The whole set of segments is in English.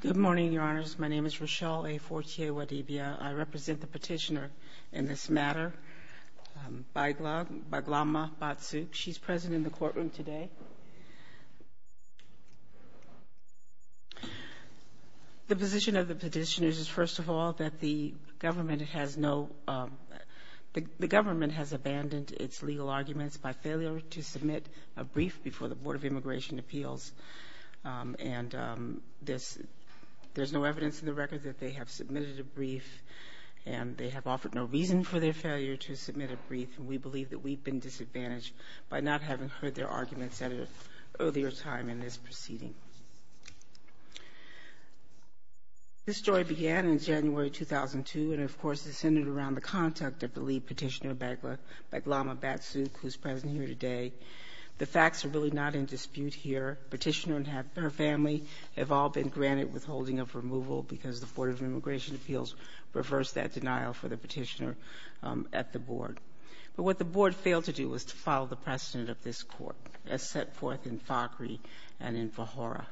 Good morning, Your Honors. My name is Rochelle A. Fortier-Wadibia. I represent the petitioner in this matter, Baigalmaa Batsukh. She's present in the courtroom today. The position of the petitioner is, first of all, that the government has abandoned its legal arguments by failure to submit a brief before the Board of Immigration Appeals. There's no evidence in the record that they have submitted a brief, and they have offered no reason for their failure to submit a brief. We believe that we've been disadvantaged by not having heard their arguments at an earlier time in this proceeding. This story began in January 2002, and, of course, this ended around the contact of the lead petitioner, Baigalmaa Batsukh, who's present here today. The facts are really not in dispute here. Petitioner and her family have all been granted withholding of removal because the Board of Immigration Appeals reversed that denial for the petitioner at the Board. But what the Board failed to do was to follow the precedent of this Court, as set forth in Fogry and in Fajora,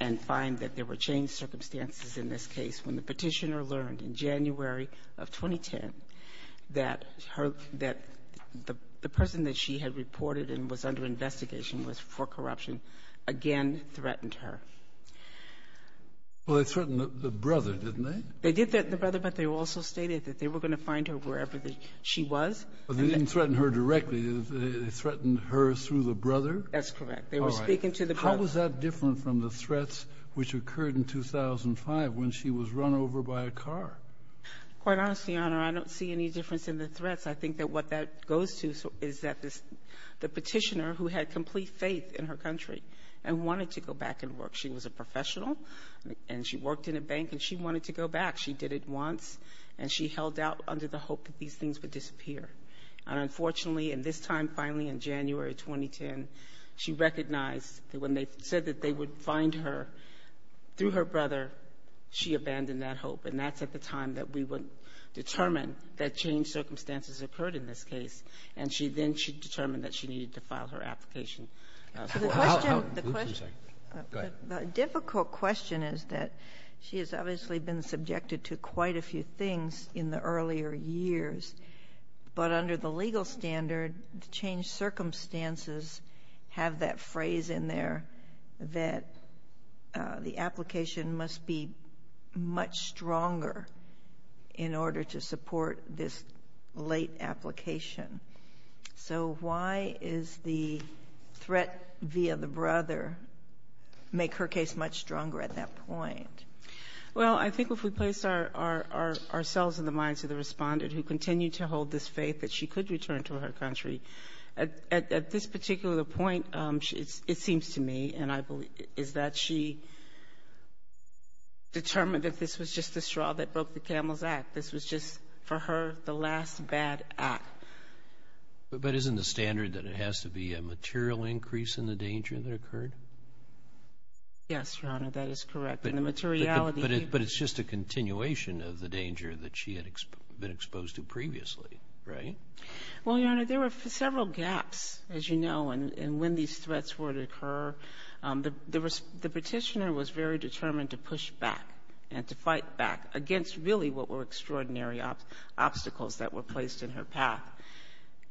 and find that there were changed circumstances in this case when the petitioner learned in January of 2010 that the person that she had reported and was under investigation was for corruption again threatened her. Well, they threatened the brother, didn't they? They did threaten the brother, but they also stated that they were going to find her wherever she was. But they didn't threaten her directly. They threatened her through the brother? That's correct. All right. They were speaking to the brother. How was that different from the threats which occurred in 2005 when she was run over by a car? Quite honestly, Your Honor, I don't see any difference in the threats. I think that what that goes to is that the petitioner, who had complete faith in her country and wanted to go back and work She was a professional, and she worked in a bank, and she wanted to go back. She did it once, and she held out under the hope that these things would disappear. And unfortunately, and this time, finally, in January of 2010, she recognized that when they said that they would find her through her brother, she abandoned that hope. And that's at the time that we would determine that changed circumstances occurred in this case. And then she determined that she needed to file her application. The question is that she has obviously been subjected to quite a few things in the earlier years. But under the legal standard, changed circumstances have that phrase in there that the application must be much stronger in order to support this late application. So why is the threat via the brother make her case much stronger at that point? Well, I think if we place ourselves in the minds of the respondent who continued to hold this faith that she could return to her country, at this particular point, it seems to me, and I believe, is that she determined that this was just the straw that broke the camel's back. This was just, for her, the last bad act. But isn't the standard that it has to be a material increase in the danger that occurred? Yes, Your Honor, that is correct. But it's just a continuation of the danger that she had been exposed to previously, right? Well, Your Honor, there were several gaps, as you know, in when these threats were to occur. The petitioner was very determined to push back and to fight back against, really, what were extraordinary obstacles that were placed in her path.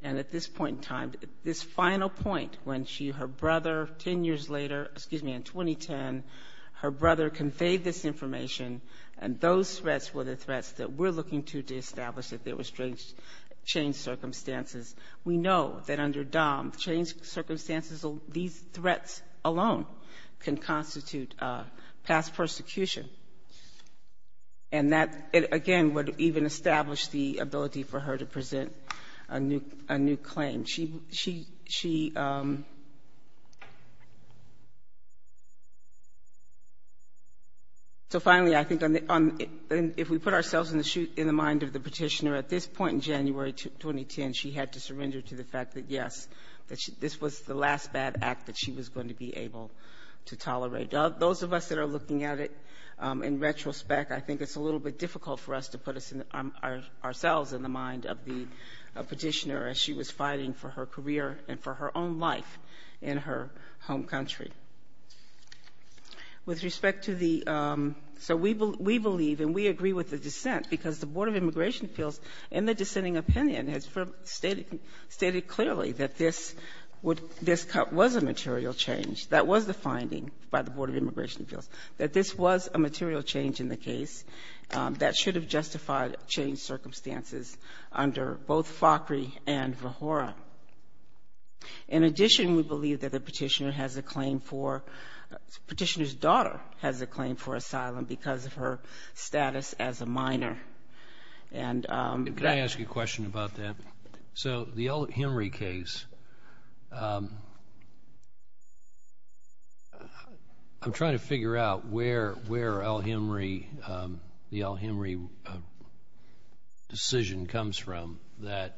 And at this point in time, this final point when she, her brother, 10 years later, excuse me, in 2010, her brother conveyed this information, and those threats were the threats that we're looking to establish if there were changed circumstances. We know that under DOM, changed circumstances, these threats alone can constitute past persecution. And that, again, would even establish the ability for her to present a new claim. She, so finally, I think if we put ourselves in the mind of the petitioner, at this point in January 2010, she had to surrender to the fact that, yes, this was the last bad act that she was going to be able to tolerate. Those of us that are looking at it in retrospect, I think it's a little bit difficult for us to put ourselves in the mind of the petitioner as she was fighting for her career and for her own life in her home country. With respect to the, so we believe, and we agree with the dissent, because the Board of Immigration Appeals in the dissenting opinion has stated clearly that this would, this was a material change. That was the finding by the Board of Immigration Appeals, that this was a material change in the case that should have justified changed circumstances under both FACRI and VRHORA. In addition, we believe that the petitioner has a claim for, petitioner's daughter has a claim for asylum because of her status as a minor. Can I ask you a question about that? So the El-Hemry case, I'm trying to figure out where El-Hemry, the El-Hemry decision comes from that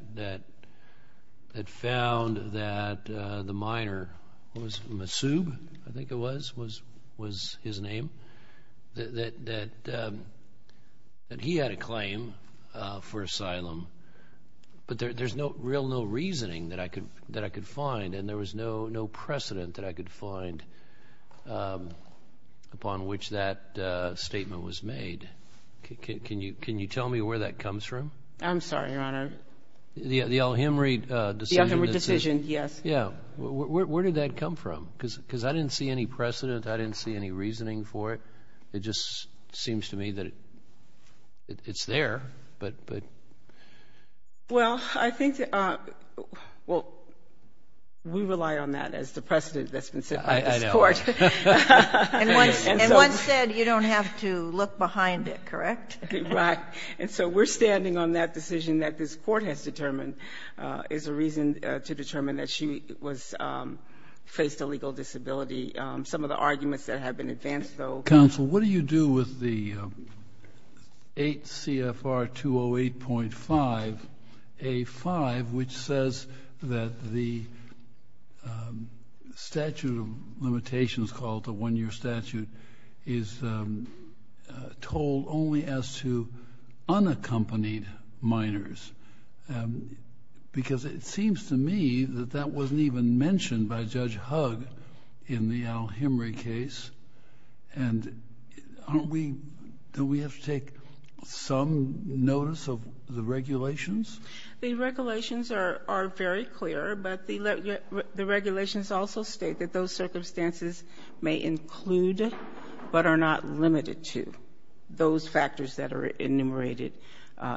found that the minor, Masoub, I think it was, was his name, that he had a claim for asylum. But there's no real, no reasoning that I could find, and there was no precedent that I could find upon which that statement was made. Can you tell me where that comes from? I'm sorry, Your Honor. The El-Hemry decision. The El-Hemry decision, yes. Yeah. Where did that come from? Because I didn't see any precedent. I didn't see any reasoning for it. It just seems to me that it's there, but. Well, I think, well, we rely on that as the precedent that's been set by this Court. I know. And one said you don't have to look behind it, correct? Right. And so we're standing on that decision that this Court has determined is a reason to determine that she faced a legal disability. Some of the arguments that have been advanced, though. Counsel, what do you do with the 8 CFR 208.5A.5, which says that the statute of limitations called the one-year statute is told only as to unaccompanied minors? Because it seems to me that that wasn't even mentioned by Judge Hugg in the El-Hemry case. And don't we have to take some notice of the regulations? The regulations are very clear, but the regulations also state that those circumstances may include, but are not limited to, those factors that are enumerated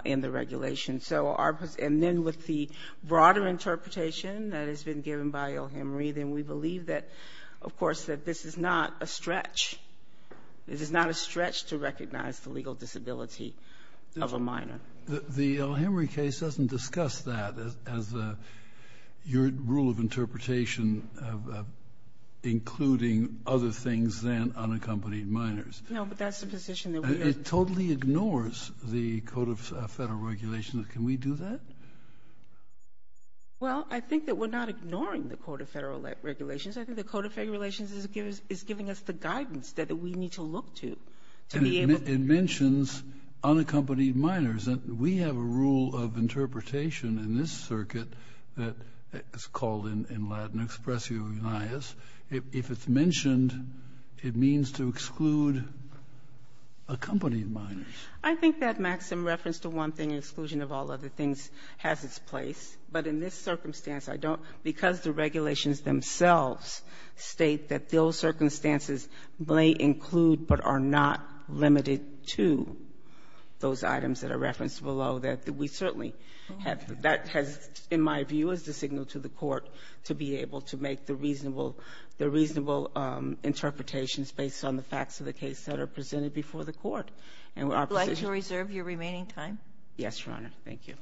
in the regulations. And then with the broader interpretation that has been given by El-Hemry, then we believe that, of course, that this is not a stretch. This is not a stretch to recognize the legal disability of a minor. The El-Hemry case doesn't discuss that as your rule of interpretation, including other things than unaccompanied minors. No, but that's the position that we are in. It totally ignores the Code of Federal Regulations. Can we do that? Well, I think that we're not ignoring the Code of Federal Regulations. I think the Code of Federal Relations is giving us the guidance that we need to look to. And it mentions unaccompanied minors. We have a rule of interpretation in this circuit that is called, in Latin, expressio unias. If it's mentioned, it means to exclude accompanied minors. I think that maximum reference to one thing, exclusion of all other things, has its place. But in this circumstance, I don't, because the regulations themselves state that those circumstances may include but are not limited to those items that are referenced below, that we certainly have that has, in my view, is the signal to the Court to be able to make the reasonable, the reasonable interpretations based on the facts of the case that are presented before the Court. And our position Would you like to reserve your remaining time? Yes, Your Honor. Thank you.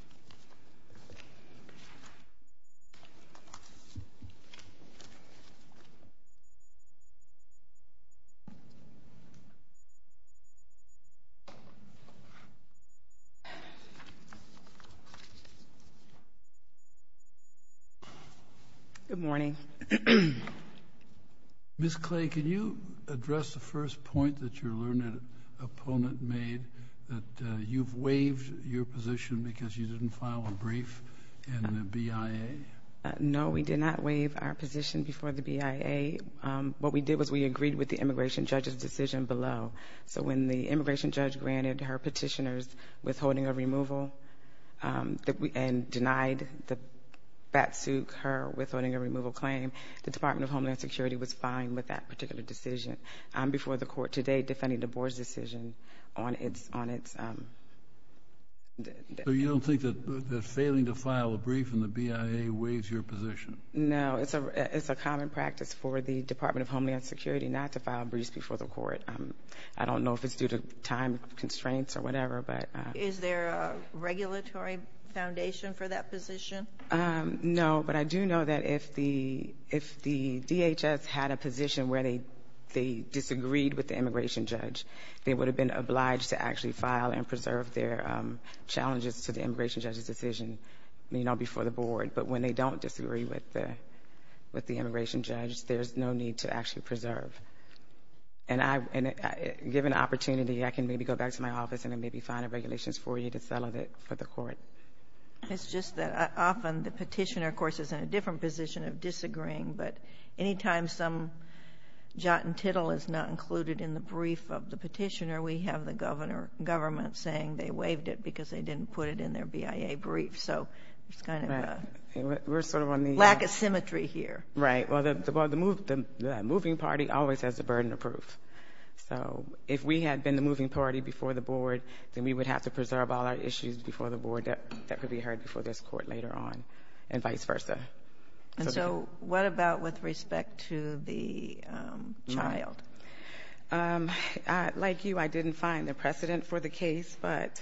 Ms. Clay, can you address the first point that your learned opponent made, that you've waived your position because you didn't file a brief in the BIA? No, we did not waive our position before the BIA. What we did was we agreed with the immigration judge's decision below. So when the immigration judge granted her petitioner's withholding of removal and denied the BATSUG her withholding of removal claim, the Department of Homeland Security was fine with that particular decision. I'm before the Court today defending the Board's decision on its So you don't think that failing to file a brief in the BIA waives your position? No, it's a common practice for the Department of Homeland Security not to file a brief before the Court. I don't know if it's due to time constraints or whatever, but Is there a regulatory foundation for that position? No, but I do know that if the DHS had a position where they disagreed with the immigration judge, they would have been obliged to actually file and preserve their challenges to the immigration judge's decision before the Board. But when they don't disagree with the immigration judge, there's no need to actually preserve. And given the opportunity, I can maybe go back to my office and maybe find regulations for you to settle for the Court. It's just that often the petitioner, of course, is in a different position of disagreeing, but anytime some jot and tittle is not included in the brief of the petitioner, we have the government saying they waived it because they didn't put it in their BIA brief. So it's kind of a lack of symmetry here. Right. Well, the moving party always has the burden of proof. So if we had been the moving party before the Board, then we would have to make sure that that could be heard before this Court later on and vice versa. And so what about with respect to the child? Like you, I didn't find the precedent for the case, but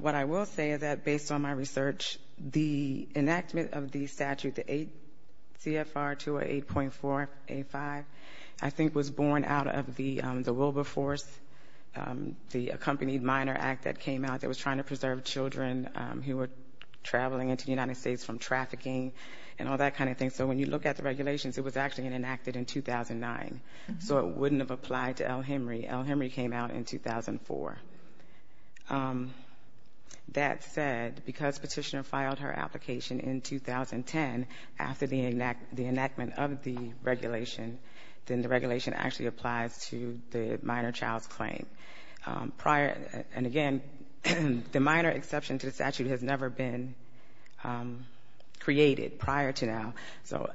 what I will say is that based on my research, the enactment of the statute, the CFR 208.4A5, I think was born out of the Wilberforce, the accompanied minor act that came out that was trying to preserve children who were traveling into the United States from trafficking and all that kind of thing. So when you look at the regulations, it was actually enacted in 2009. So it wouldn't have applied to L. Henry. L. Henry came out in 2004. That said, because petitioner filed her application in 2010 after the enactment of the regulation, then the regulation actually applies to the minor child's claim. And again, the minor exception to the statute has never been created prior to now. So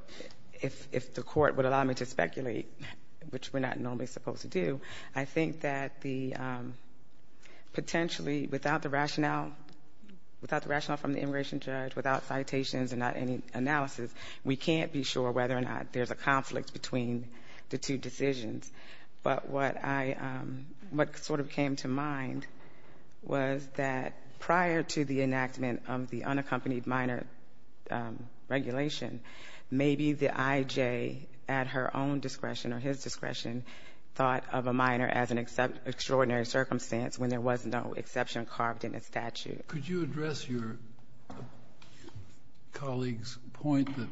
if the Court would allow me to speculate, which we're not normally supposed to do, I think that the potentially, without the rationale from the immigration judge, without citations and not any analysis, we can't be sure whether or not there's a conflict between the two decisions. But what sort of came to mind was that prior to the enactment of the unaccompanied minor regulation, maybe the I.J., at her own discretion or his discretion, thought of a minor as an extraordinary circumstance when there was no exception carved in the statute. Could you address your colleague's point that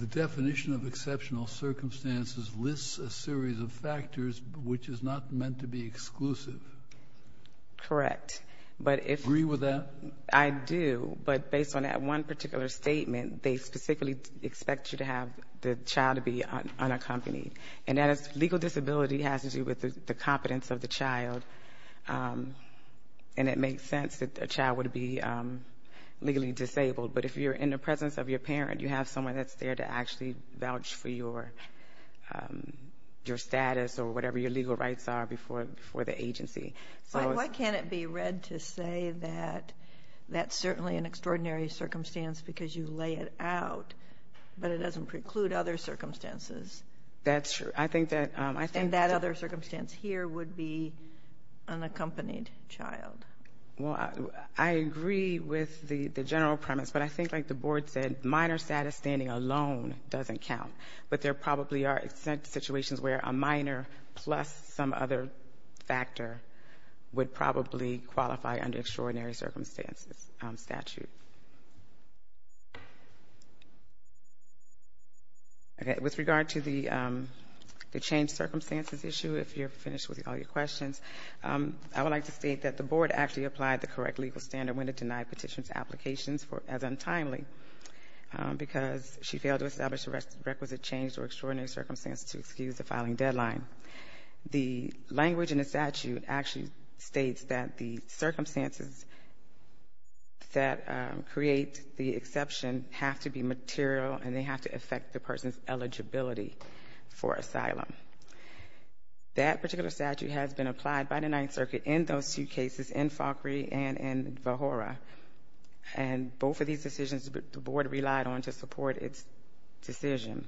the definition of exceptional circumstances lists a series of factors which is not meant to be exclusive? Correct. Agree with that? I do. But based on that one particular statement, they specifically expect you to have the child to be unaccompanied. And that is legal disability has to do with the competence of the child. And it makes sense that a child would be legally disabled. But if you're in the presence of your parent, you have someone that's there to actually vouch for your status or whatever your legal rights are before the agency. Why can't it be read to say that that's certainly an extraordinary circumstance because you lay it out, but it doesn't preclude other circumstances? That's true. And that other circumstance here would be unaccompanied child. Well, I agree with the general premise. But I think, like the Board said, minor status standing alone doesn't count. But there probably are situations where a minor plus some other factor would probably qualify under extraordinary circumstances statute. With regard to the changed circumstances issue, if you're finished with all your questions, I would like to state that the Board actually applied the correct legal standard when it denied petitioner's applications as untimely because she failed to establish a requisite change or extraordinary circumstance to excuse the filing deadline. The language in the statute actually states that the circumstances that create the exception have to be material and they have to affect the person's eligibility for asylum. That particular statute has been applied by the Ninth Circuit in those two cases, in Falkrie and in Vahora. And both of these decisions the Board relied on to support its decision.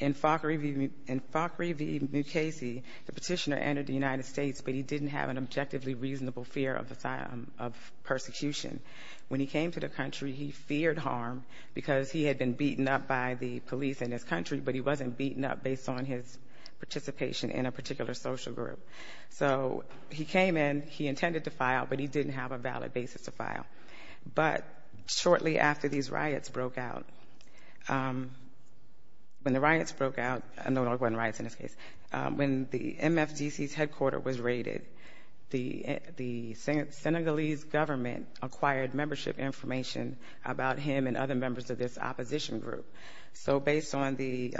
In Falkrie v. Mukasey, the petitioner entered the United States, but he didn't have an objectively reasonable fear of persecution. When he came to the country, he feared harm because he had been beaten up by the police in his country, but he wasn't beaten up based on his participation in a particular social group. So he came in, he intended to file, but he didn't have a valid basis to file. But shortly after these riots broke out, when the riots broke out, no, there weren't riots in this case, when the MFDC's headquarters was raided, the Senegalese government acquired membership information about him and other members of this opposition group. So based on the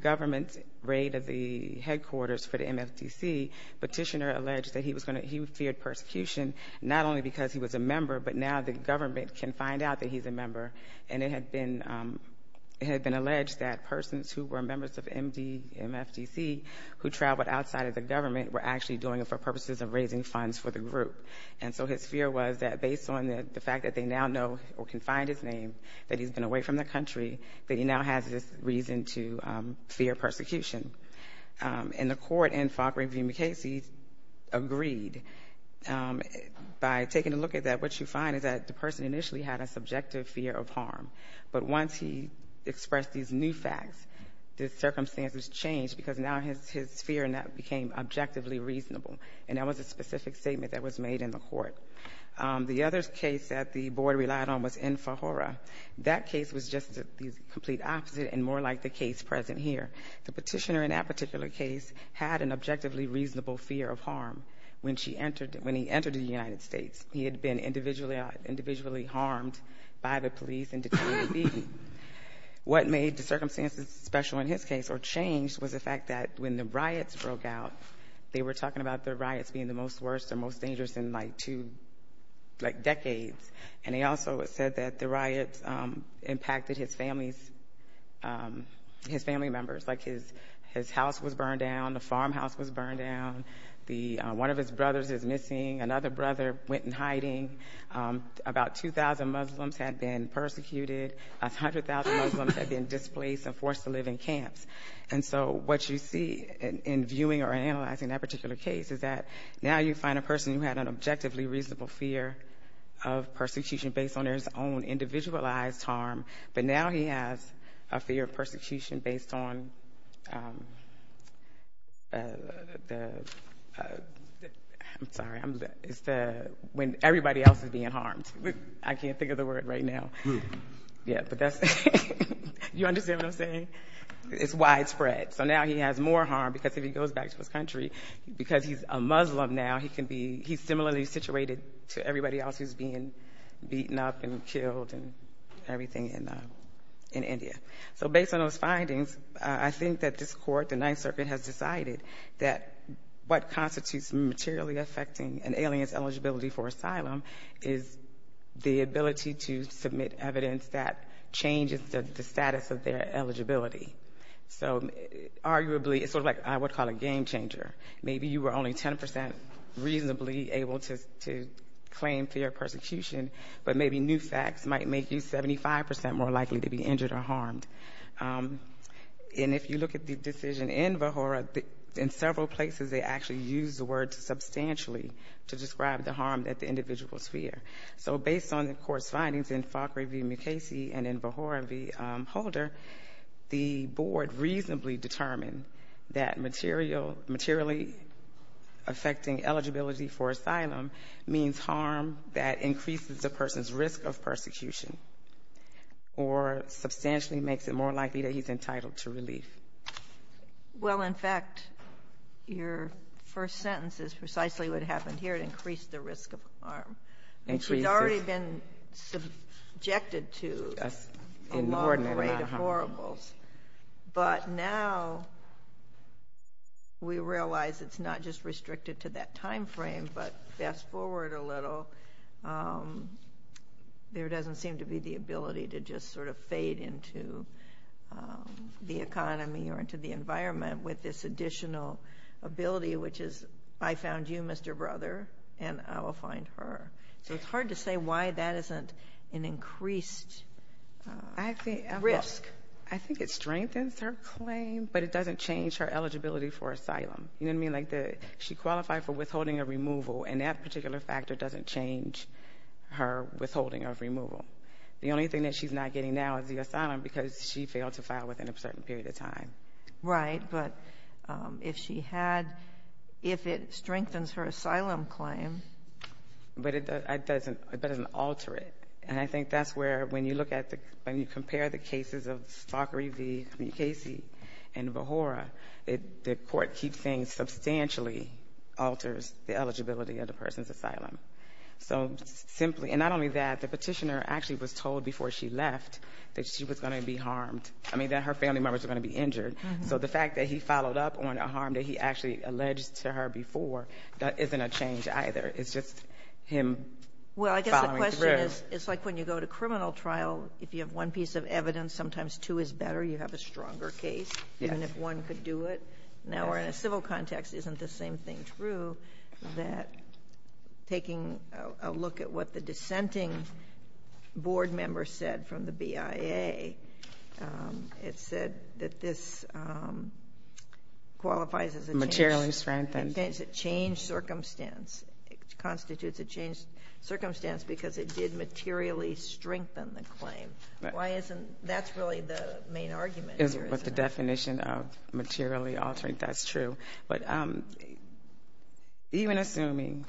government's raid of the headquarters for the MFDC, the petitioner alleged that he feared persecution not only because he was a member, but now the government can find out that he's a member. And it had been alleged that persons who were members of MFDC who traveled outside of the government were actually doing it for purposes of raising funds for the group. And so his fear was that based on the fact that they now know or can find his name, that he's been away from the country, that he now has this reason to fear persecution. And the court in Falkring v. McCasey agreed. By taking a look at that, what you find is that the person initially had a subjective fear of harm. But once he expressed these new facts, the circumstances changed because now his fear now became objectively reasonable. And that was a specific statement that was made in the court. The other case that the board relied on was in Fajora. That case was just the complete opposite and more like the case present here. The petitioner in that particular case had an objectively reasonable fear of harm when he entered the United States. He had been individually harmed by the police and detained and beaten. What made the circumstances special in his case or changed was the fact that when the riots broke out, they were talking about the riots being the most worst or most dangerous in, like, two decades. And they also said that the riots impacted his family members. Like his house was burned down. The farmhouse was burned down. One of his brothers is missing. Another brother went in hiding. About 2,000 Muslims had been persecuted. A hundred thousand Muslims had been displaced and forced to live in camps. And so what you see in viewing or analyzing that particular case is that now you find a person who had an objectively reasonable fear of persecution based on their own individualized harm, but now he has a fear of persecution based on the ‑‑ I'm sorry. It's the when everybody else is being harmed. I can't think of the word right now. It's widespread. So now he has more harm because if he goes back to his country, because he's a Muslim now, he's similarly situated to everybody else who's being beaten up and killed and everything in India. So based on those findings, I think that this court, the Ninth Circuit, has decided that what constitutes materially affecting an alien's eligibility for asylum is the ability to submit evidence that changes the status of their eligibility. So arguably it's sort of like what I would call a game changer. Maybe you were only 10% reasonably able to claim fear of persecution, but maybe new facts might make you 75% more likely to be injured or harmed. And if you look at the decision in Vahura, in several places they actually used the word substantially to describe the harm that the individuals fear. So based on the court's findings in Fakhri v. Mukasey and in Vahura v. Holder, the board reasonably determined that materially affecting eligibility for asylum means harm that increases the person's risk of persecution or substantially makes it more likely that he's entitled to relief. Well, in fact, your first sentence is precisely what happened here. It increased the risk of harm. And she's already been subjected to a long parade of horribles. But now we realize it's not just restricted to that time frame, but fast forward a little, there doesn't seem to be the ability to just sort of fade into the economy or into the environment with this additional ability, which is I found you, Mr. Brother, and I will find her. So it's hard to say why that isn't an increased risk. I think it strengthens her claim, but it doesn't change her eligibility for asylum. You know what I mean? She qualified for withholding of removal, and that particular factor doesn't change her withholding of removal. The only thing that she's not getting now is the asylum because she failed to file within a certain period of time. Right. But if she had, if it strengthens her asylum claim. But it doesn't alter it. And I think that's where, when you compare the cases of Fakhri v. Mukasey and Vahura, the court keeps saying substantially alters the eligibility of the person's asylum. So simply, and not only that, the petitioner actually was told before she left that she was going to be harmed. I mean, that her family members were going to be injured. So the fact that he followed up on a harm that he actually alleged to her before, that isn't a change either. It's just him following through. Well, I guess the question is, it's like when you go to criminal trial, if you have one piece of evidence, sometimes two is better, you have a stronger case, even if one could do it. Now we're in a civil context, isn't the same thing true that taking a look at what the dissenting board member said from the BIA, it said that this qualifies as a change. Materially strengthened. It changed circumstance. It constitutes a changed circumstance because it did materially strengthen the claim. That's really the main argument here, isn't it? With the definition of materially altering, that's true. But even assuming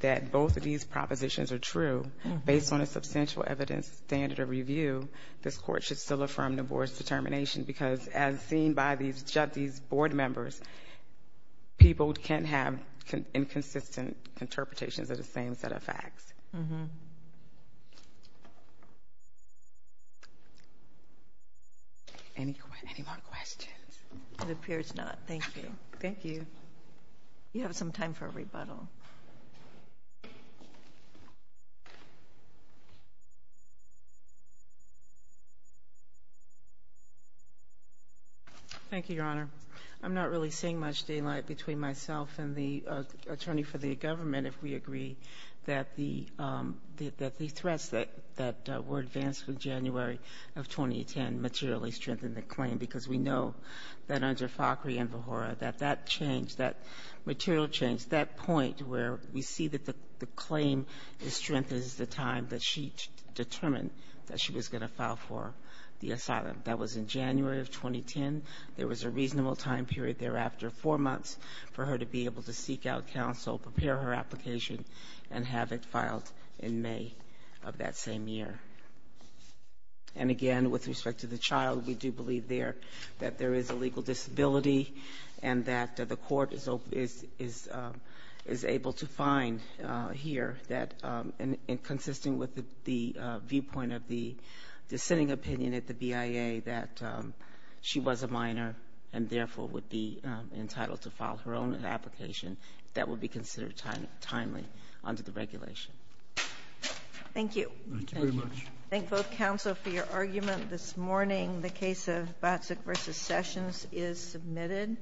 that both of these propositions are true, based on a substantial evidence standard of review, this court should still affirm the board's determination because as seen by these board members, people can have inconsistent interpretations of the same set of facts. Any more questions? It appears not. Thank you. Thank you. You have some time for a rebuttal. Thank you, Your Honor. I'm not really seeing much daylight between myself and the attorney for the government if we agree that the threats that were advanced through January of 2010 materially strengthened the claim, because we know that under Fakhri and Vahura that that changed, that material changed, that point where we see that the claim is strengthened is the time that she determined that she was going to file for the asylum. That was in January of 2010. There was a reasonable time period thereafter, four months, for her to be able to seek out counsel, prepare her application, and have it filed in May of that same year. And again, with respect to the child, we do believe there that there is a legal disability and that the court is able to find here that, and consisting with the viewpoint of the dissenting opinion at the BIA that she was a minor and therefore would be entitled to file her own application, that would be considered timely under the regulation. Thank you. Thank you very much. Thank both counsel for your argument this morning. The case of Batsik v. Sessions is submitted.